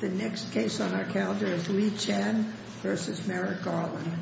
The next case on our calendar is Lee Chan v. Merrick Garland Lee Chan v. Merrick Garland Lee Chan v. Merrick Garland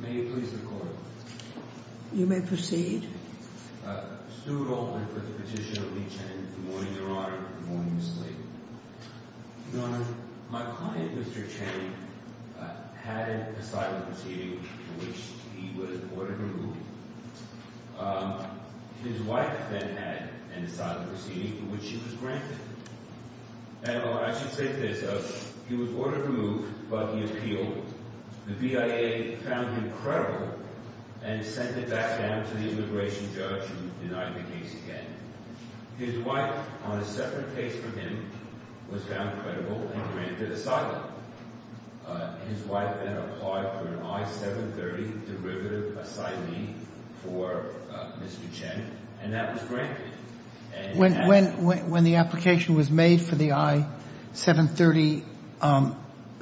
May you please record? You may proceed. Stuart Alden for the petitioner, Lee Chan. Good morning, Your Honor. Good morning, Miss Lee. Your Honor, my client, Mr. Chan, had an asylum proceeding for which he was ordered removed. His wife then had an asylum proceeding for which she was granted. And I should say this, he was ordered removed, but he appealed. The BIA found him credible and sent him back down to the immigration judge who denied the case again. His wife, on a separate case from him, was found credible and granted asylum. His wife then applied for an I-730 derivative asylum for Mr. Chan, and that was granted. When the application was made for the I-730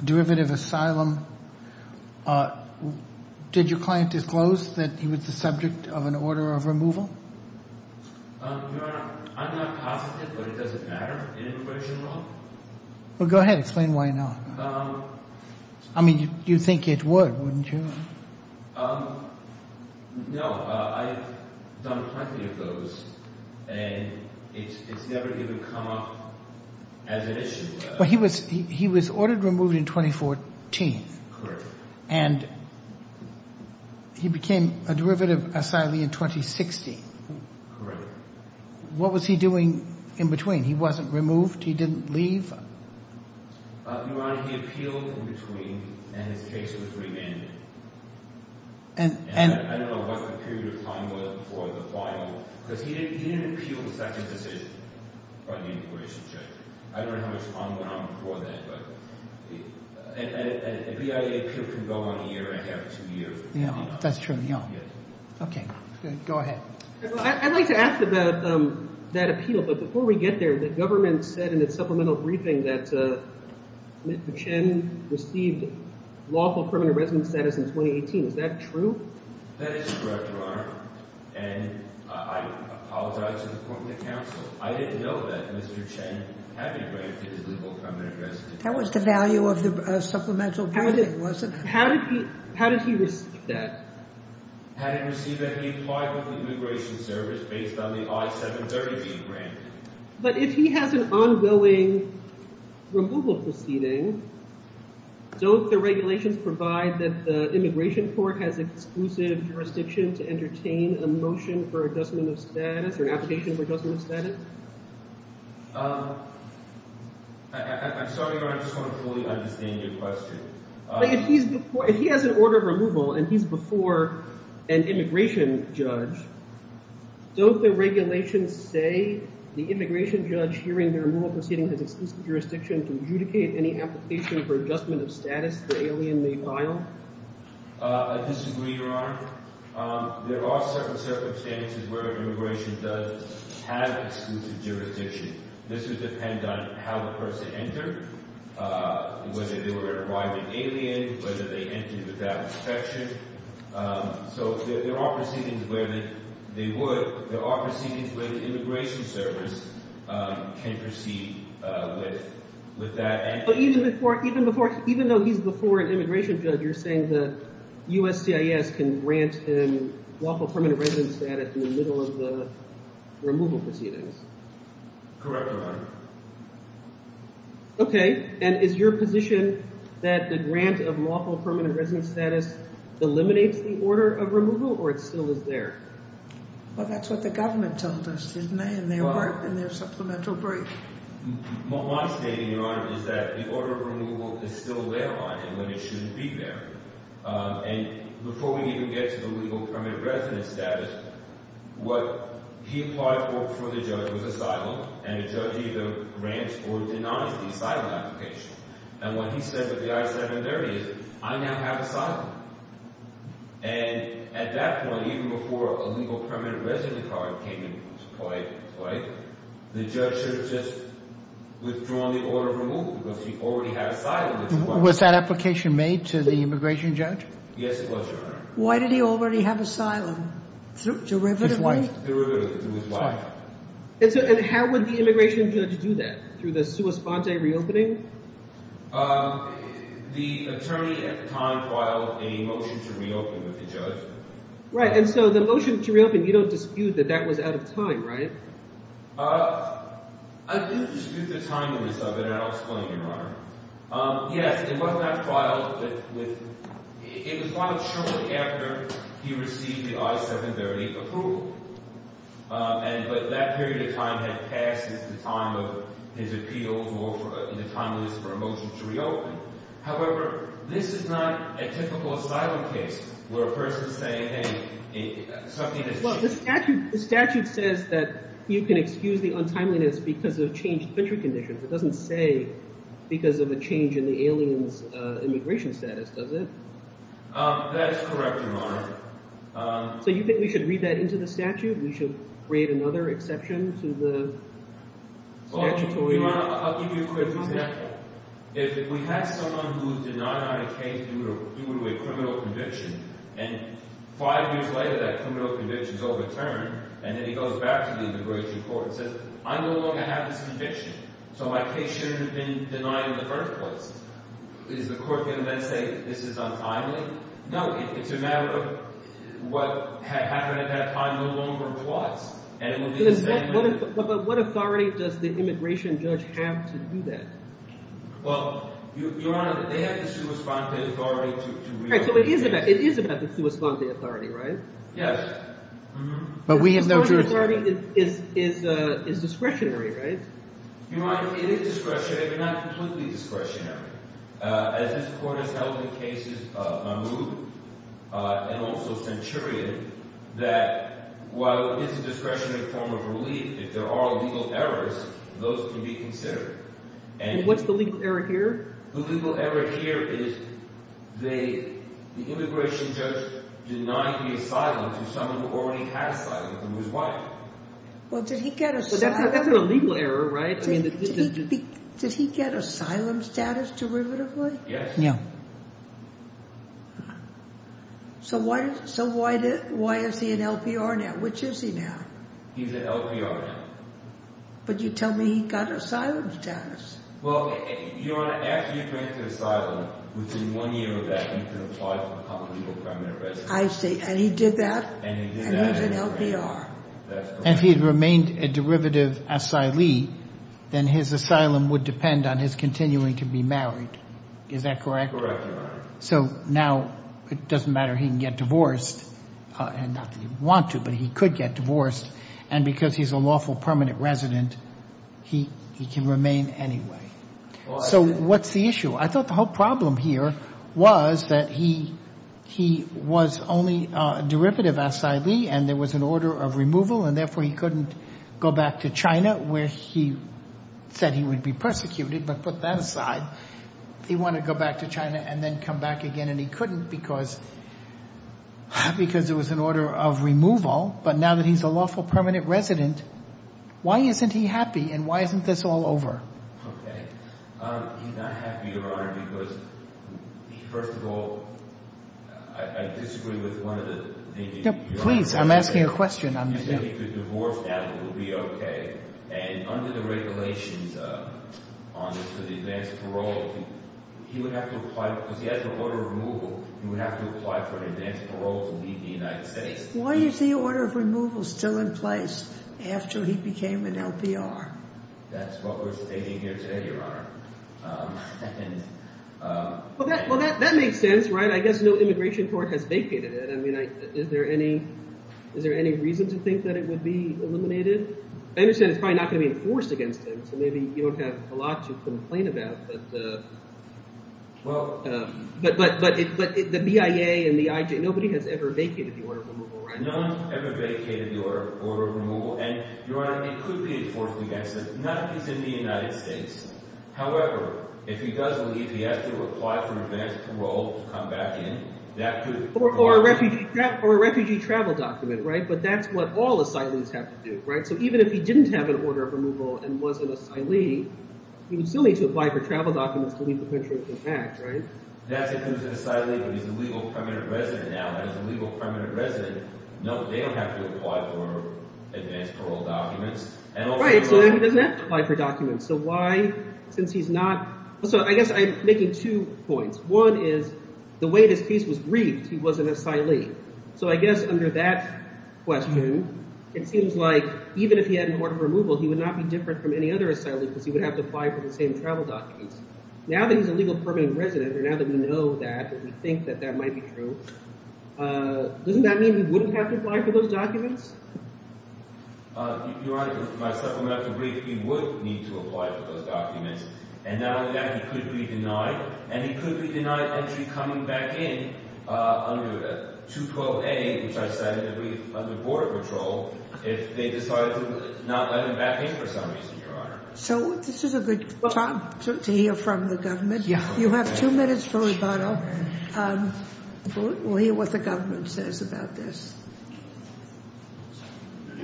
derivative asylum, did your client disclose that he was the subject of an order of removal? Your Honor, I'm not positive, but it doesn't matter in immigration law. Well, go ahead. Explain why not. I mean, you'd think it would, wouldn't you? No, I've done plenty of those, and it's never even come up as an issue. Well, he was ordered removed in 2014. Correct. And he became a derivative asylee in 2016. Correct. What was he doing in between? He wasn't removed? He didn't leave? Your Honor, he appealed in between, and his case was remanded. And I don't know what the period of time was for the file, because he didn't appeal the second decision by the immigration judge. I don't know how much time went on before that, but a BIA appeal can go on a year and a half, two years. That's true. Okay. Go ahead. I'd like to ask about that appeal, but before we get there, the government said in its supplemental briefing that Mr. Chan received lawful criminal residence status in 2018. Is that true? That is correct, Your Honor. And I apologize for the point of the counsel. I didn't know that Mr. Chan had been granted his legal criminal residence status. That was the value of the supplemental briefing, wasn't it? How did he receive that? Had he received that, he applied for the immigration service based on the I-730 being granted. But if he has an ongoing removal proceeding, don't the regulations provide that the immigration court has exclusive jurisdiction to entertain a motion for adjustment of status or an application for adjustment of status? I'm sorry, Your Honor. I just want to fully understand your question. If he has an order of removal and he's before an immigration judge, don't the regulations say the immigration judge hearing the removal proceeding has exclusive jurisdiction to adjudicate any application for adjustment of status the alien may file? I disagree, Your Honor. There are certain circumstances where immigration does have exclusive jurisdiction. This would depend on how the person entered, whether they were an arriving alien, whether they entered without inspection. So there are proceedings where they would. There are proceedings where the immigration service can proceed with that. Even though he's before an immigration judge, you're saying the USCIS can grant him lawful permanent residence status in the middle of the removal proceedings? Correct, Your Honor. Okay. And is your position that the grant of lawful permanent residence status eliminates the order of removal or it still is there? Well, that's what the government told us, didn't they, in their supplemental brief. My statement, Your Honor, is that the order of removal is still there on it when it shouldn't be there. And before we even get to the legal permanent residence status, what he applied for the judge was asylum, and the judge either grants or denies the asylum application. And what he said with the I-730 is, I now have asylum. And at that point, even before a legal permanent residence card came into play, the judge should have just withdrawn the order of removal because he already had asylum. Was that application made to the immigration judge? Yes, it was, Your Honor. Why did he already have asylum? Derivatively? Derivatively, through his wife. And how would the immigration judge do that, through the sua sponte reopening? The attorney at the time filed a motion to reopen with the judge. Right, and so the motion to reopen, you don't dispute that that was out of time, right? I do dispute the timeliness of it, and I'll explain, Your Honor. Yes, it was not filed with – it was filed shortly after he received the I-730 approval. But that period of time had passed. This is the time of his appeals or in the timeliness for a motion to reopen. However, this is not a typical asylum case where a person is saying, hey, something has changed. Well, the statute says that you can excuse the untimeliness because of changed country conditions. It doesn't say because of a change in the alien's immigration status, does it? That is correct, Your Honor. So you think we should read that into the statute? We should create another exception to the statutory – Well, Your Honor, I'll give you a quick example. If we had someone who's denied on a case due to a criminal conviction, and five years later that criminal conviction is overturned, and then he goes back to the immigration court and says, I no longer have this conviction. So my case shouldn't have been denied in the first place. Is the court going to then say this is untimely? No. It's a matter of what happened at that time no longer applies, and it will be the same later. But what authority does the immigration judge have to do that? Well, Your Honor, they have the sui sponte authority to reopen the case. Right. So it is about the sui sponte authority, right? Yes. But we have no jurisdiction. The sui sponte authority is discretionary, right? Your Honor, it is discretionary, but not completely discretionary. As this court has held in cases of Mahmoud and also Centurion, that while it is a discretionary form of relief, if there are legal errors, those can be considered. And what's the legal error here? The legal error here is the immigration judge denied the asylum to someone who already has asylum from his wife. Well, did he get asylum? That's a legal error, right? Did he get asylum status derivatively? Yes. No. So why is he an LPR now? Which is he now? He's an LPR now. But you tell me he got asylum status. Well, Your Honor, after you get to asylum, within one year of that, he can apply to become a legal permanent resident. I see. And he did that? And he did that. And he's an LPR. That's correct. And if he had remained a derivative asylee, then his asylum would depend on his continuing to be married. Is that correct? Correct, Your Honor. So now it doesn't matter. He can get divorced. And not that he'd want to, but he could get divorced. And because he's a lawful permanent resident, he can remain anyway. So what's the issue? I thought the whole problem here was that he was only a derivative asylee and there was an order of removal, and therefore he couldn't go back to China where he said he would be persecuted, but put that aside. He wanted to go back to China and then come back again, and he couldn't because there was an order of removal. But now that he's a lawful permanent resident, why isn't he happy and why isn't this all over? Okay. He's not happy, Your Honor, because, first of all, I disagree with one of the things that you're asking. No, please. I'm asking a question. He said he could divorce now and it would be okay. And under the regulations on the advance parole, he would have to apply because he had the order of removal. He would have to apply for an advance parole to leave the United States. Why is the order of removal still in place after he became an LPR? That's what we're debating here today, Your Honor. Well, that makes sense, right? I guess no immigration court has vacated it. I mean, is there any reason to think that it would be eliminated? I understand it's probably not going to be enforced against him, so maybe you don't have a lot to complain about. But the BIA and the IJ, nobody has ever vacated the order of removal, right? No one's ever vacated the order of removal. And, Your Honor, it could be enforced against him, not because he's in the United States. However, if he does leave, he has to apply for advance parole to come back in. Or a refugee travel document, right? But that's what all asylees have to do, right? So even if he didn't have an order of removal and was an asylee, he would still need to apply for travel documents to leave the country intact, right? That's if he was an asylee, but he's a legal permanent resident now. And as a legal permanent resident, no, they don't have to apply for advance parole documents. Right, so then he doesn't have to apply for documents. So why, since he's not – so I guess I'm making two points. One is the way this case was briefed, he was an asylee. So I guess under that question, it seems like even if he had an order of removal, he would not be different from any other asylee because he would have to apply for the same travel documents. Now that he's a legal permanent resident, or now that we know that and we think that that might be true, doesn't that mean he wouldn't have to apply for those documents? Your Honor, to supplement the brief, he would need to apply for those documents. And not only that, he could be denied. And he could be denied entry coming back in under 212A, which I cited, under Border Patrol, if they decided to not let him back in for some reason, Your Honor. So this is a good time to hear from the government. You have two minutes for rebuttal. We'll hear what the government says about this. Good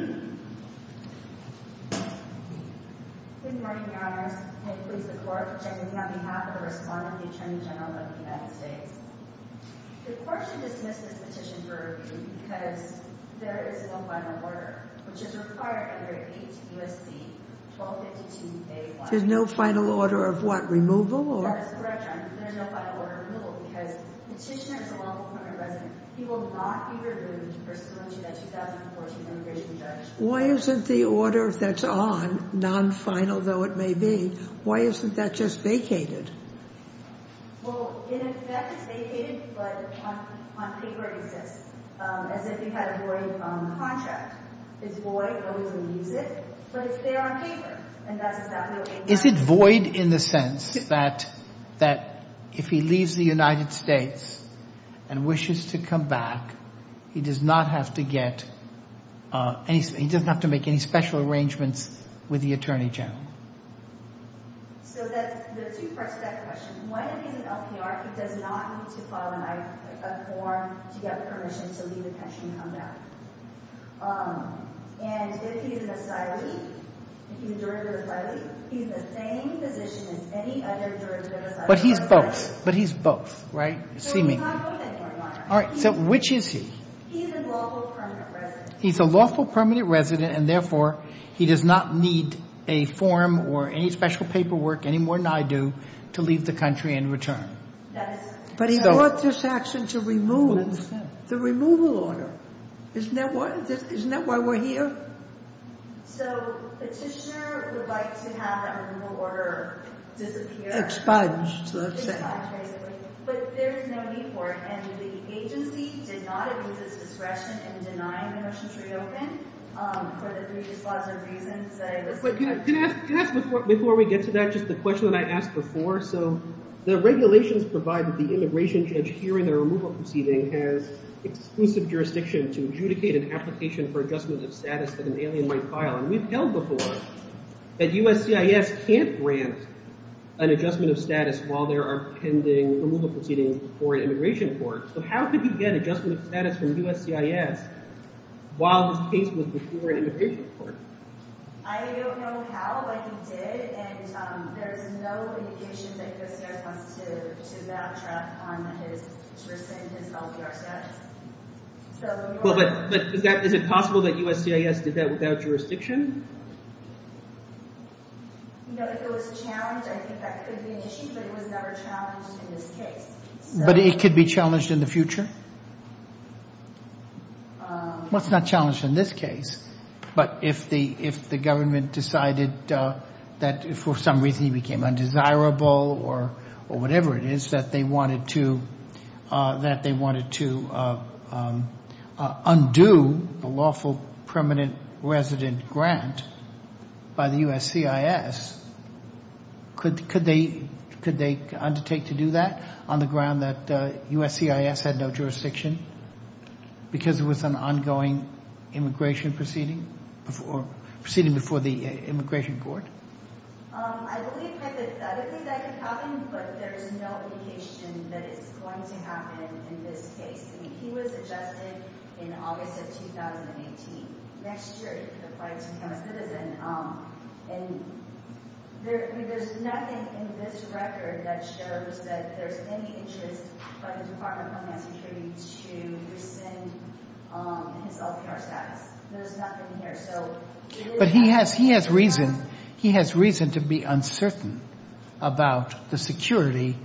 morning, Your Honors. I pledge allegiance to the flag of the United States and to the republic for which it stands, one nation, under God, indivisible, with liberty and justice for all. The court should dismiss this petition for rebuke because there is no final order, which is required under 8 U.S.C. 1252A1. There's no final order of what? Removal? Why isn't the order that's on, non-final though it may be, why isn't that just vacated? Well, in effect it's vacated, but on paper it exists. As if you had a void contract. It's void, nobody's going to use it, but it's there on paper. And that's exactly what we want. Is it void in the sense that if he leaves the United States and wishes to come back, he does not have to get any, he doesn't have to make any special arrangements with the Attorney General? So there's two parts to that question. One, in the LPR, he does not need to file a form to get permission to leave the country and come back. And if he's an asylee, if he's a derivative of an asylee, he's the same position as any other derivative of an asylee. But he's both, but he's both, right, seemingly. So he's not both anymore, Your Honor. All right, so which is he? He's a lawful permanent resident. And therefore, he does not need a form or any special paperwork, any more than I do, to leave the country and return. But he brought this action to remove the removal order. Isn't that why we're here? So Petitioner would like to have that removal order disappear. Expunged, let's say. Expunged, basically. But there is no need for it. And the agency did not abuse its discretion in denying the motion to reopen for the three dispositive reasons that I listed. But can I ask before we get to that just the question that I asked before? So the regulations provide that the immigration judge hearing the removal proceeding has exclusive jurisdiction to adjudicate an application for adjustment of status that an alien might file. And we've held before that USCIS can't grant an adjustment of status while there are pending removal proceedings before an immigration court. So how could he get adjustment of status from USCIS while this case was before an immigration court? I don't know how, but he did. And there's no indication that USCIS wants to backtrack on his self-jurisdiction. Well, but is it possible that USCIS did that without jurisdiction? You know, if it was challenged, I think that could be an issue, but it was never challenged in this case. But it could be challenged in the future? Well, it's not challenged in this case. But if the government decided that for some reason he became undesirable or whatever it is, that they wanted to undo the lawful permanent resident grant by the USCIS, could they undertake to do that on the ground that USCIS had no jurisdiction? Because it was an ongoing immigration proceeding? Proceeding before the immigration court? I believe hypothetically that could happen, but there's no indication that it's going to happen in this case. I mean, he was adjusted in August of 2018. And there's nothing in this record that shows that there's any interest by the Department of Homeland Security to rescind his LPR status. There's nothing here. But he has reason to be uncertain about the security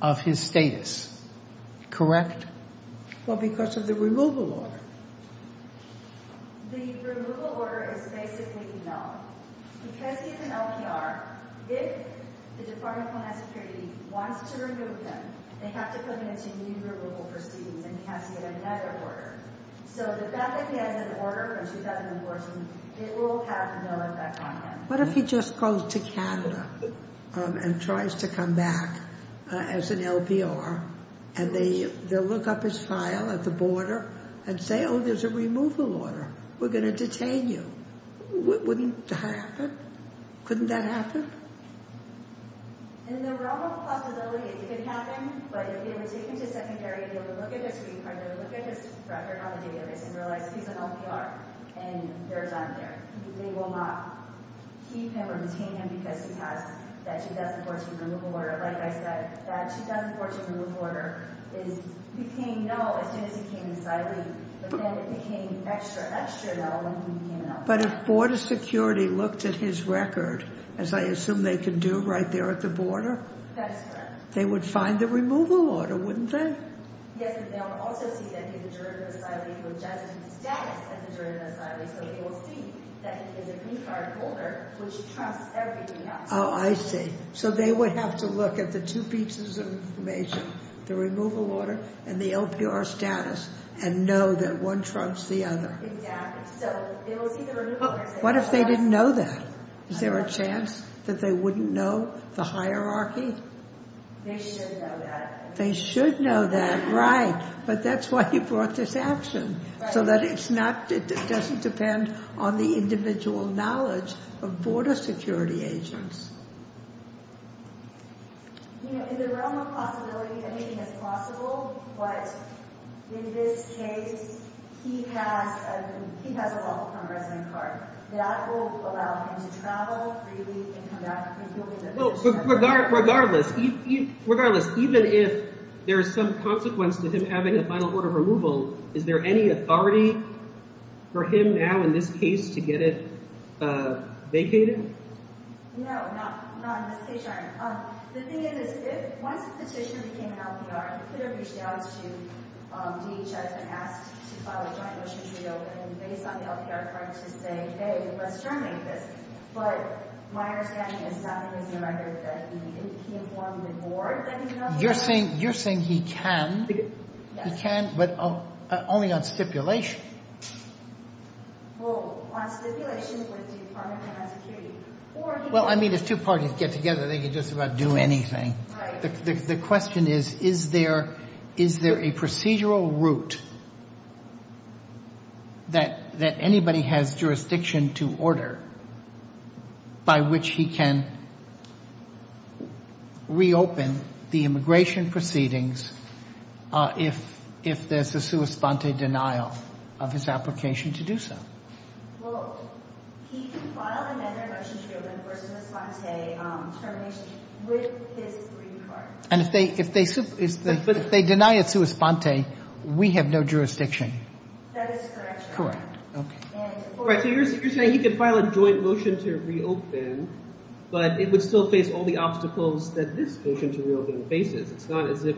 of his status, correct? Well, because of the removal order. The removal order is basically no. Because he's an LPR, if the Department of Homeland Security wants to remove him, they have to put him into new removal proceedings and he has to get another order. So, if that becomes an order in 2014, it will have no effect on him. What if he just goes to Canada and tries to come back as an LPR, and they look up his file at the border and say, oh, there's a removal order. We're going to detain you. Wouldn't that happen? Couldn't that happen? In the realm of possibility, it could happen. But if they were to take him to secondary and they were to look at his record on the database and realize he's an LPR and there's none there, they will not keep him or detain him because he has that 2014 removal order. Like I said, that 2014 removal order became no as soon as he became an asylee, but then it became extra, extra no when he became an LPR. But if border security looked at his record, as I assume they can do right there at the border? That is correct. They would find the removal order, wouldn't they? Yes, but they would also see that he's a juridical asylee, who adjusted his status as a juridical asylee, so they will see that he is a green card holder, which trumps everything else. Oh, I see. So they would have to look at the two pieces of information, the removal order and the LPR status, and know that one trumps the other. Exactly. So they will see the removal order. What if they didn't know that? Is there a chance that they wouldn't know the hierarchy? They should know that. They should know that, right. But that's why you brought this action, so that it's not, it doesn't depend on the individual knowledge of border security agents. You know, in the realm of possibility, anything is possible, but in this case, he has, he has a welcome resident card. That will allow him to travel freely and come back. Regardless, regardless, even if there is some consequence to him having a final order of removal, is there any authority for him now, in this case, to get it vacated? No, not in this case, Your Honor. The thing is, once the petition became an LPR, it could have reached out to DHS and asked to file a joint motion to reopen, based on the LPR card, to say, hey, let's terminate this. But my understanding is that he informed the board that he was going to do that. You're saying he can? He can, but only on stipulation. Well, on stipulation with the Department of Homeland Security. Well, I mean, if two parties get together, they can just about do anything. Right. The question is, is there a procedural route that anybody has jurisdiction to order by which he can reopen the immigration proceedings if there's a sua sponte denial of his application to do so? Well, he can file another motion to reopen for sua sponte termination with his green card. But if they deny it sua sponte, we have no jurisdiction. That is correct, Your Honor. Correct. So you're saying he can file a joint motion to reopen, but it would still face all the obstacles that this motion to reopen faces. It's not as if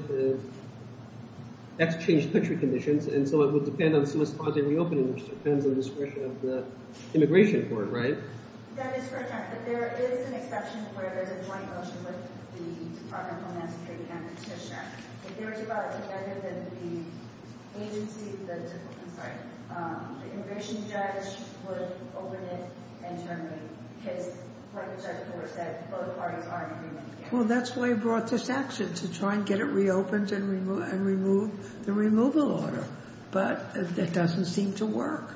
that's changed country conditions, and so it would depend on sua sponte reopening, which depends on the discretion of the immigration court, right? That is correct, Your Honor. But there is an exception where there's a joint motion with the Department of Homeland Security and a petition. If there was a violation, the immigration judge would open it internally, because like the judge before said, both parties are in agreement. Well, that's why he brought this action, to try and get it reopened and remove the removal order. But it doesn't seem to work.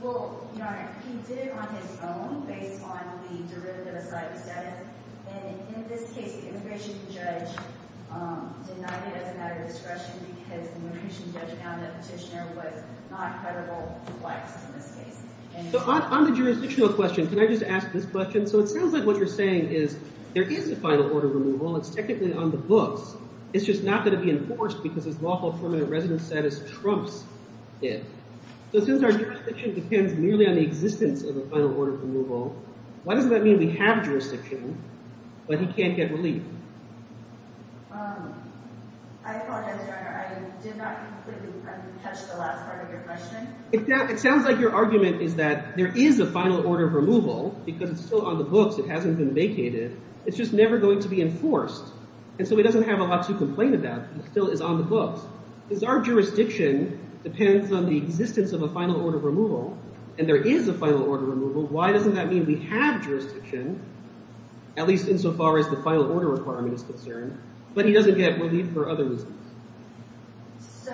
Well, Your Honor, he did it on his own based on the derivative aside status. And in this case, the immigration judge denied it as a matter of discretion because the immigration judge found that the petitioner was not credible to blacks in this case. So on the jurisdictional question, can I just ask this question? So it sounds like what you're saying is there is a final order removal. It's technically on the books. It's just not going to be enforced because his lawful permanent residence status trumps it. So since our jurisdiction depends merely on the existence of a final order removal, why doesn't that mean we have jurisdiction, but he can't get relief? I apologize, Your Honor, I did not completely catch the last part of your question. It sounds like your argument is that there is a final order of removal because it's still on the books. It hasn't been vacated. It's just never going to be enforced. And so he doesn't have a lot to complain about. It still is on the books. Since our jurisdiction depends on the existence of a final order of removal, and there is a final order of removal, why doesn't that mean we have jurisdiction, at least insofar as the final order requirement is concerned, but he doesn't get relief for other reasons? So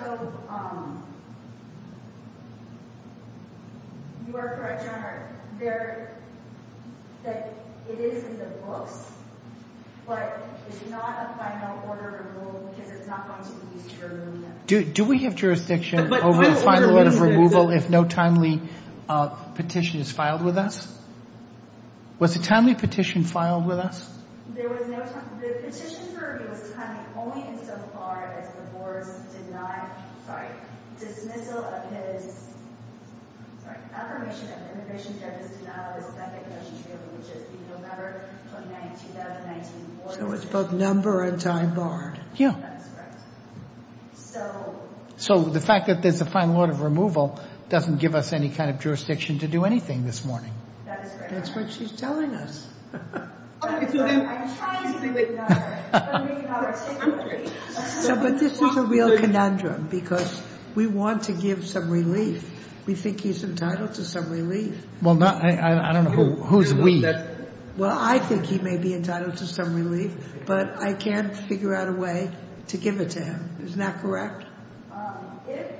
you are correct, Your Honor, that it is in the books, but it's not a final order of removal because it's not going to be used for relief. Do we have jurisdiction over the final order of removal if no timely petition is filed with us? Was a timely petition filed with us? There was no time. The petition for review was timely only insofar as the board did not, sorry, dismissal of his, sorry, affirmation of immigration judges did not have a second condition to be able to reach it in November 2019. So it's both number and time barred. That is correct. So the fact that there's a final order of removal doesn't give us any kind of jurisdiction to do anything this morning. That is correct. That's what she's telling us. I'm trying to do it now. But this is a real conundrum because we want to give some relief. We think he's entitled to some relief. Well, I don't know who's we. Well, I think he may be entitled to some relief, but I can't figure out a way to give it to him. Isn't that correct? If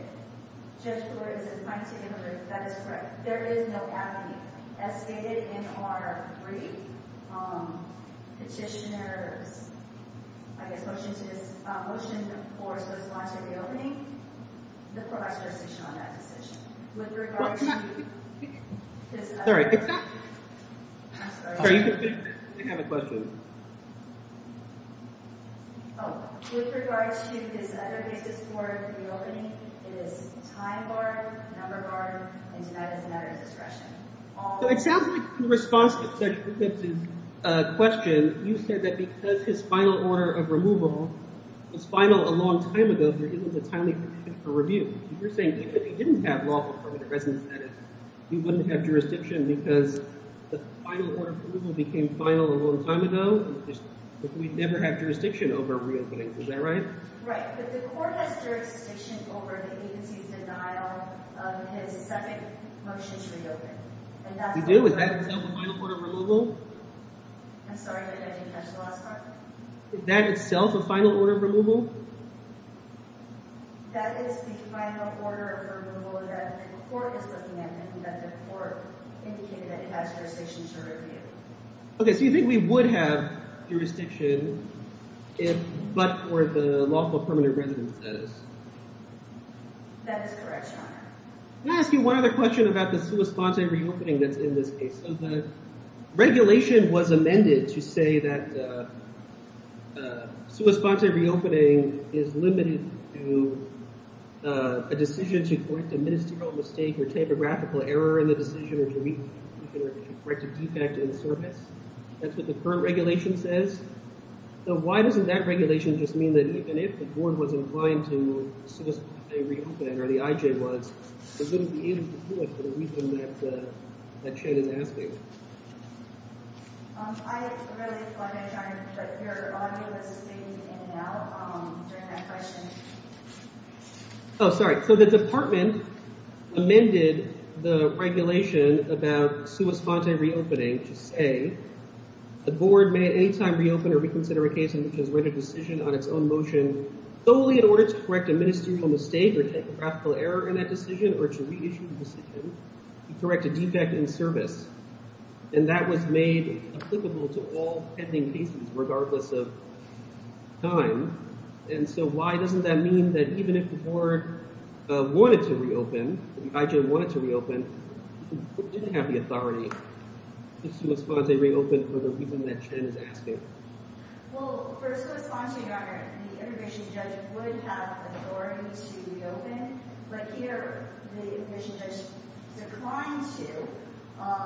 Judge Brewer is inclined to give a relief, that is correct. There is no avenue as stated in our brief petitioner's, I guess, motion to his, motion for his response at the opening, the provider's jurisdiction on that decision. With regards to his other cases for the opening, it is time barred, number barred, and tonight is a matter of discretion. It sounds like in response to Judge Jacobs' question, you said that because his final order of removal is final a long time ago, there isn't a timely review. You're saying even if he didn't have lawful permanent residence, that is, he wouldn't have jurisdiction because the final order of removal became final a long time ago? We'd never have jurisdiction over a reopening. Is that right? Right. But the court has jurisdiction over the agency's denial of his second motion to reopen. We do? Is that itself a final order of removal? I'm sorry, I didn't catch the last part. Is that itself a final order of removal? That is the final order of removal that the court is looking at and that the court indicated that it has jurisdiction to review. Okay, so you think we would have jurisdiction if, but for the lawful permanent residence status? That is correct, Your Honor. May I ask you one other question about the sua sponte reopening that's in this case? The regulation was amended to say that sua sponte reopening is limited to a decision to correct a ministerial mistake or typographical error in the decision or to correct a defect in service. That's what the current regulation says. So why doesn't that regulation just mean that even if the board was inclined to sua sponte reopen or the I.J. was, it wouldn't be able to do it for the reason that Shane is asking. I have to really clarify, Your Honor, that your audio was saved in and out during that question. Oh, sorry. So the department amended the regulation about sua sponte reopening to say the board may at any time reopen or reconsider a case in which it has made a decision on its own motion solely in order to correct a ministerial mistake or typographical error in that decision or to reissue the decision to correct a defect in service. And that was made applicable to all pending cases regardless of time. And so why doesn't that mean that even if the board wanted to reopen, the I.J. wanted to reopen, it didn't have the authority to sua sponte reopen for the reason that Shane is asking. Well, for sua sponte, Your Honor, the immigration judge would have authority to reopen, but here the immigration judge declined to.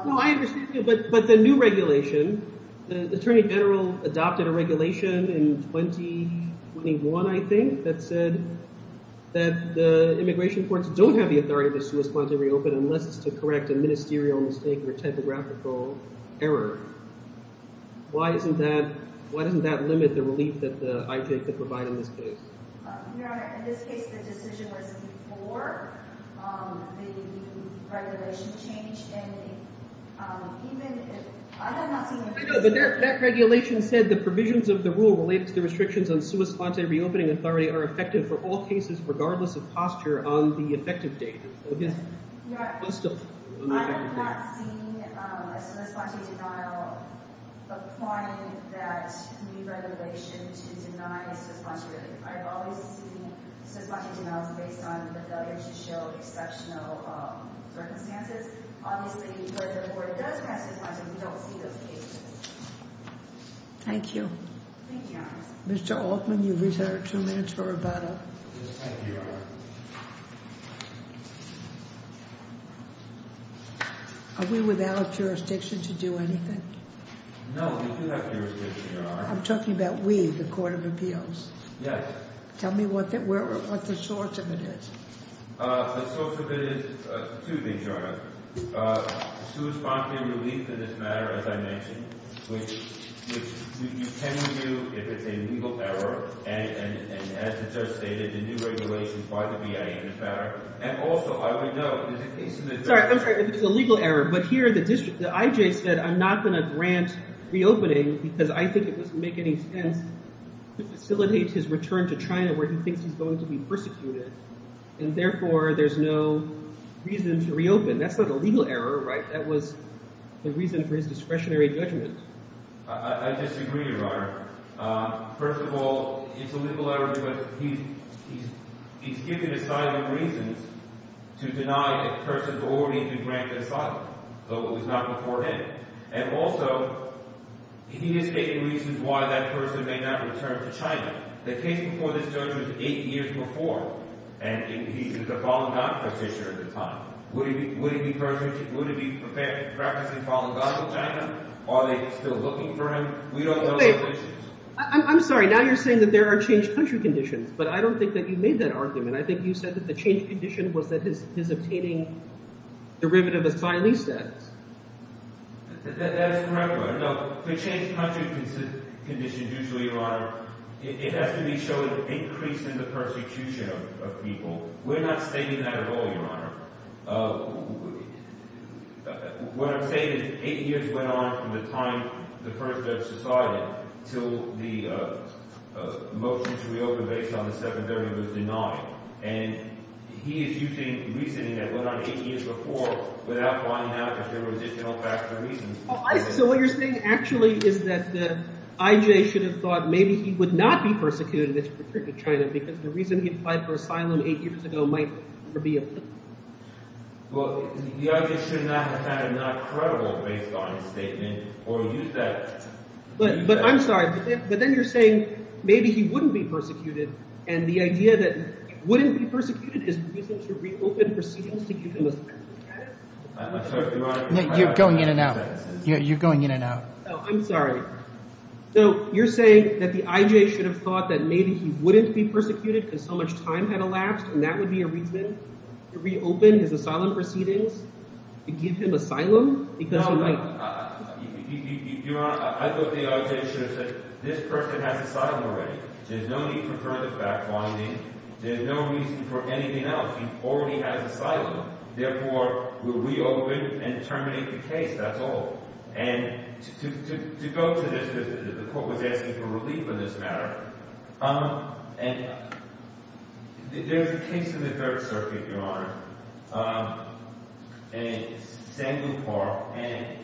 No, I understand, but the new regulation, the Attorney General adopted a regulation in 2021, I think, that said that the immigration courts don't have the authority to sua sponte reopen unless it's to correct a ministerial mistake or typographical error. Why isn't that, why doesn't that limit the relief that the I.J. could provide in this case? Your Honor, in this case, the decision was before the regulation changed, and even if, I have not seen. I know, but that regulation said the provisions of the rule relate to the restrictions on sua sponte reopening authority are effective for all cases regardless of posture on the effective date. I have not seen a sua sponte denial applying that new regulation to deny sua sponte relief. I've always seen sua sponte denials based on the failure to show exceptional circumstances. Obviously, if the board does have sua sponte, we don't see those cases. Thank you. Thank you, Your Honor. Mr. Altman, you have two minutes for rebuttal. Yes, thank you, Your Honor. Are we without jurisdiction to do anything? No, we do have jurisdiction, Your Honor. I'm talking about we, the Court of Appeals. Yes. Tell me what the source of it is. The source of it is, excuse me, Your Honor, sua sponte relief in this matter, as I mentioned, which you can review if it's a legal error, and as the judge stated, the new regulation is by the VA in this matter. And also, I would note— Sorry, I'm sorry. If it's a legal error, but here the district, the IJ said, I'm not going to grant reopening because I think it doesn't make any sense to facilitate his return to China where he thinks he's going to be persecuted, and therefore, there's no reason to reopen. That's not a legal error, right? I disagree, Your Honor. First of all, it's a legal error because he's given asylum reasons to deny a person's authority to grant asylum. So it was not before him. And also, he is stating reasons why that person may not return to China. The case before this judge was eight years before, and he's a Falun Gong practitioner at the time. Would he be practicing Falun Gong in China? Are they still looking for him? I'm sorry. Now you're saying that there are changed country conditions, but I don't think that you made that argument. I think you said that the changed condition was that he's obtaining derivative asylee status. That's correct, Your Honor. No, for changed country conditions usually, Your Honor, it has to be showing an increase in the persecution of people. We're not stating that at all, Your Honor. What I'm saying is eight years went on from the time the first judge decided until the motion to reopen based on the second jury was denied. And he is using reasoning that went on eight years before without finding out that there was additional factual reasons. So what you're saying actually is that the IJ should have thought maybe he would not be persecuted if he returned to China because the reason he applied for asylum eight years ago might never be applicable. Well, the IJ should not have found it not credible based on his statement or use that But I'm sorry, but then you're saying maybe he wouldn't be persecuted. And the idea that he wouldn't be persecuted is the reason to reopen proceedings to keep him as president. I'm sorry, Your Honor. You're going in and out. You're going in and out. Oh, I'm sorry. So you're saying that the IJ should have thought that maybe he wouldn't be persecuted because so much time had elapsed and that would be a reason to reopen his asylum proceedings to give him asylum? No, Your Honor. I thought the IJ should have said this person has asylum already. There's no need for further back bonding. There's no reason for anything else. He already has asylum. Therefore, we'll reopen and terminate the case. That's all. And to go to this, the court was asking for relief on this matter. And there's a case in the Third Circuit, Your Honor. And it's Samuel Park. And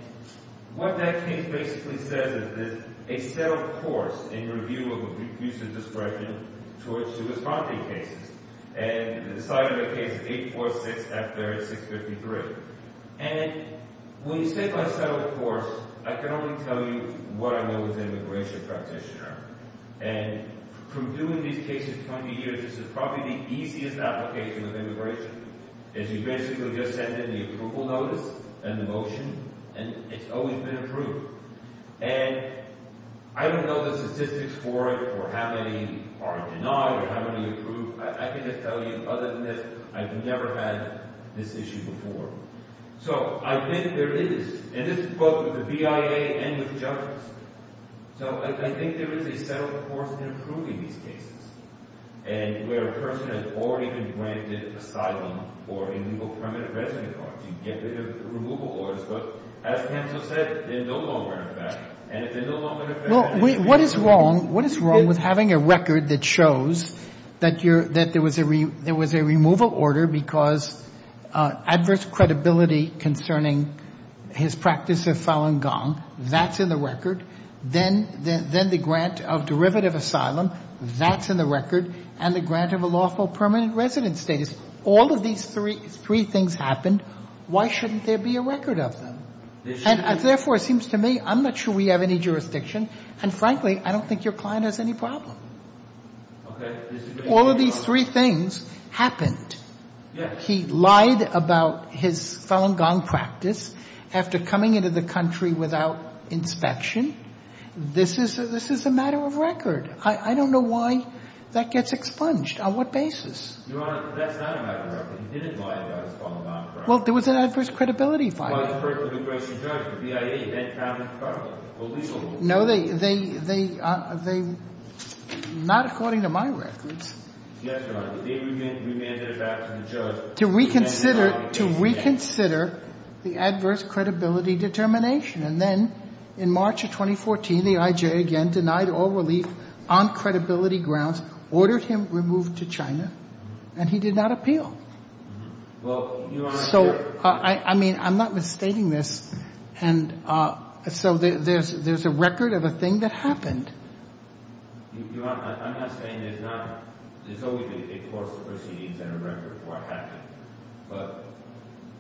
what that case basically says is a settled course in review of abusive discretion towards to his property cases. And the site of the case is 846-633. And when you say by settled course, I can only tell you what I know as an immigration practitioner. And from doing these cases 20 years, this is probably the easiest application of immigration is you basically just send in the approval notice and the motion. And it's always been approved. And I don't know the statistics for it or how many are denied or how many approved. I can just tell you, other than this, I've never had this issue before. So I think there is. And this is both with the BIA and with judges. So I think there is a settled course in approving these cases. And where a person has already been granted asylum or illegal permanent residence cards, you get removal orders. But as counsel said, they're no longer in effect. And if they're no longer in effect, then you get removal orders. What is wrong with having a record that shows that there was a removal order because of adverse credibility concerning his practice of Falun Gong? That's in the record. Then the grant of derivative asylum. That's in the record. And the grant of a lawful permanent residence status. All of these three things happened. Why shouldn't there be a record of them? And, therefore, it seems to me I'm not sure we have any jurisdiction. And, frankly, I don't think your client has any problem. All of these three things happened. He lied about his Falun Gong practice after coming into the country without inspection. This is a matter of record. I don't know why that gets expunged. On what basis? Your Honor, that's not a matter of record. He didn't lie about his Falun Gong practice. Well, there was an adverse credibility violation. Well, it's referred to the Gracie Judge, the BIA, Ed Kravitz-Garland, the legal board. No, they are not according to my records. Yes, Your Honor. They remanded it back to the judge. To reconsider the adverse credibility determination. And then, in March of 2014, the IJ again denied all relief on credibility grounds, ordered him removed to China, and he did not appeal. Well, Your Honor. So, I mean, I'm not misstating this. And so there's a record of a thing that happened. Your Honor, I'm not saying there's not. There's always a course of proceedings and a record of what happened. But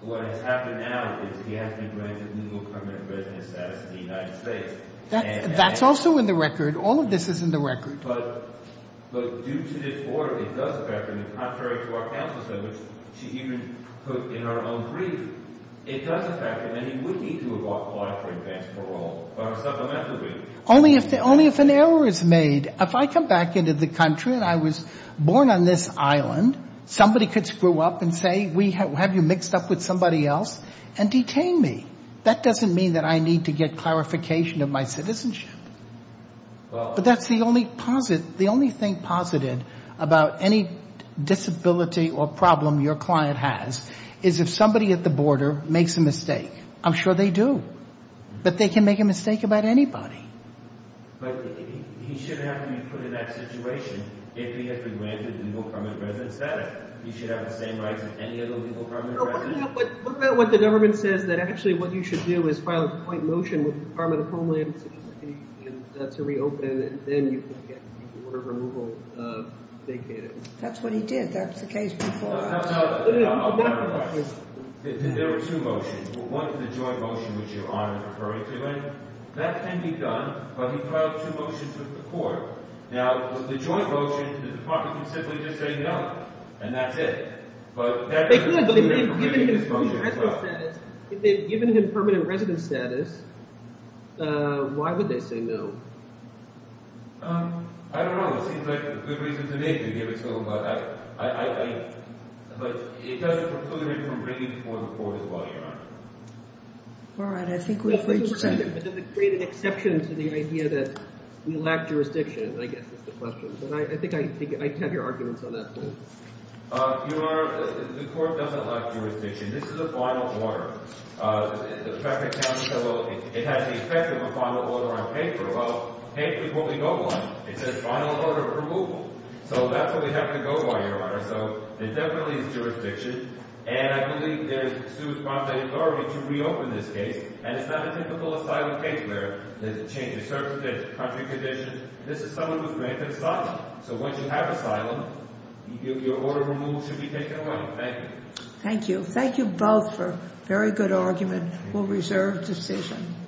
what has happened now is he has been granted legal permanent residence status in the United States. That's also in the record. All of this is in the record. But due to this order, it does affect him. And contrary to what counsel said, which she even put in her own brief, it does affect him. And he would need to have applied for advanced parole or a supplemental brief. Only if an error is made. If I come back into the country and I was born on this island, somebody could screw up and say, have you mixed up with somebody else, and detain me. That doesn't mean that I need to get clarification of my citizenship. But that's the only thing posited about any disability or problem your client has, is if somebody at the border makes a mistake. I'm sure they do. But they can make a mistake about anybody. But he should have to be put in that situation if he has been granted legal permanent residence status. He should have the same rights as any other legal permanent resident. What about what the government says that actually what you should do is file a point motion with the Department of Homeland Security to reopen and then you can get the order removal vacated. That's what he did. That's the case before. No, no, no. I'll clarify. There were two motions. One was a joint motion, which your Honor is referring to. That can be done, but he filed two motions with the court. Now, with the joint motion, the Department can simply just say no, and that's it. But that doesn't mean that you're going to get the motion. But given his permanent residence status, why would they say no? I don't know. It seems like a good reason to me to give it to them. But it does include a reason to bring it before the court as well, Your Honor. All right. I think we've reached that. But does it create an exception to the idea that we lack jurisdiction? I guess that's the question. But I think I have your arguments on that point. Your Honor, the court doesn't lack jurisdiction. This is a final order. The traffic county said, well, it has the effect of a final order on paper. Well, paper is what we go by. It says final order of removal. So that's what we have to go by, Your Honor. So it definitely is jurisdiction. And I believe there's suit from the authority to reopen this case. And it's not a typical asylum case where there's a change of circumstances, country condition. This is someone who's granted asylum. So once you have asylum, your order of removal should be taken away. Thank you. Thank you. Thank you both for a very good argument. We'll reserve decision.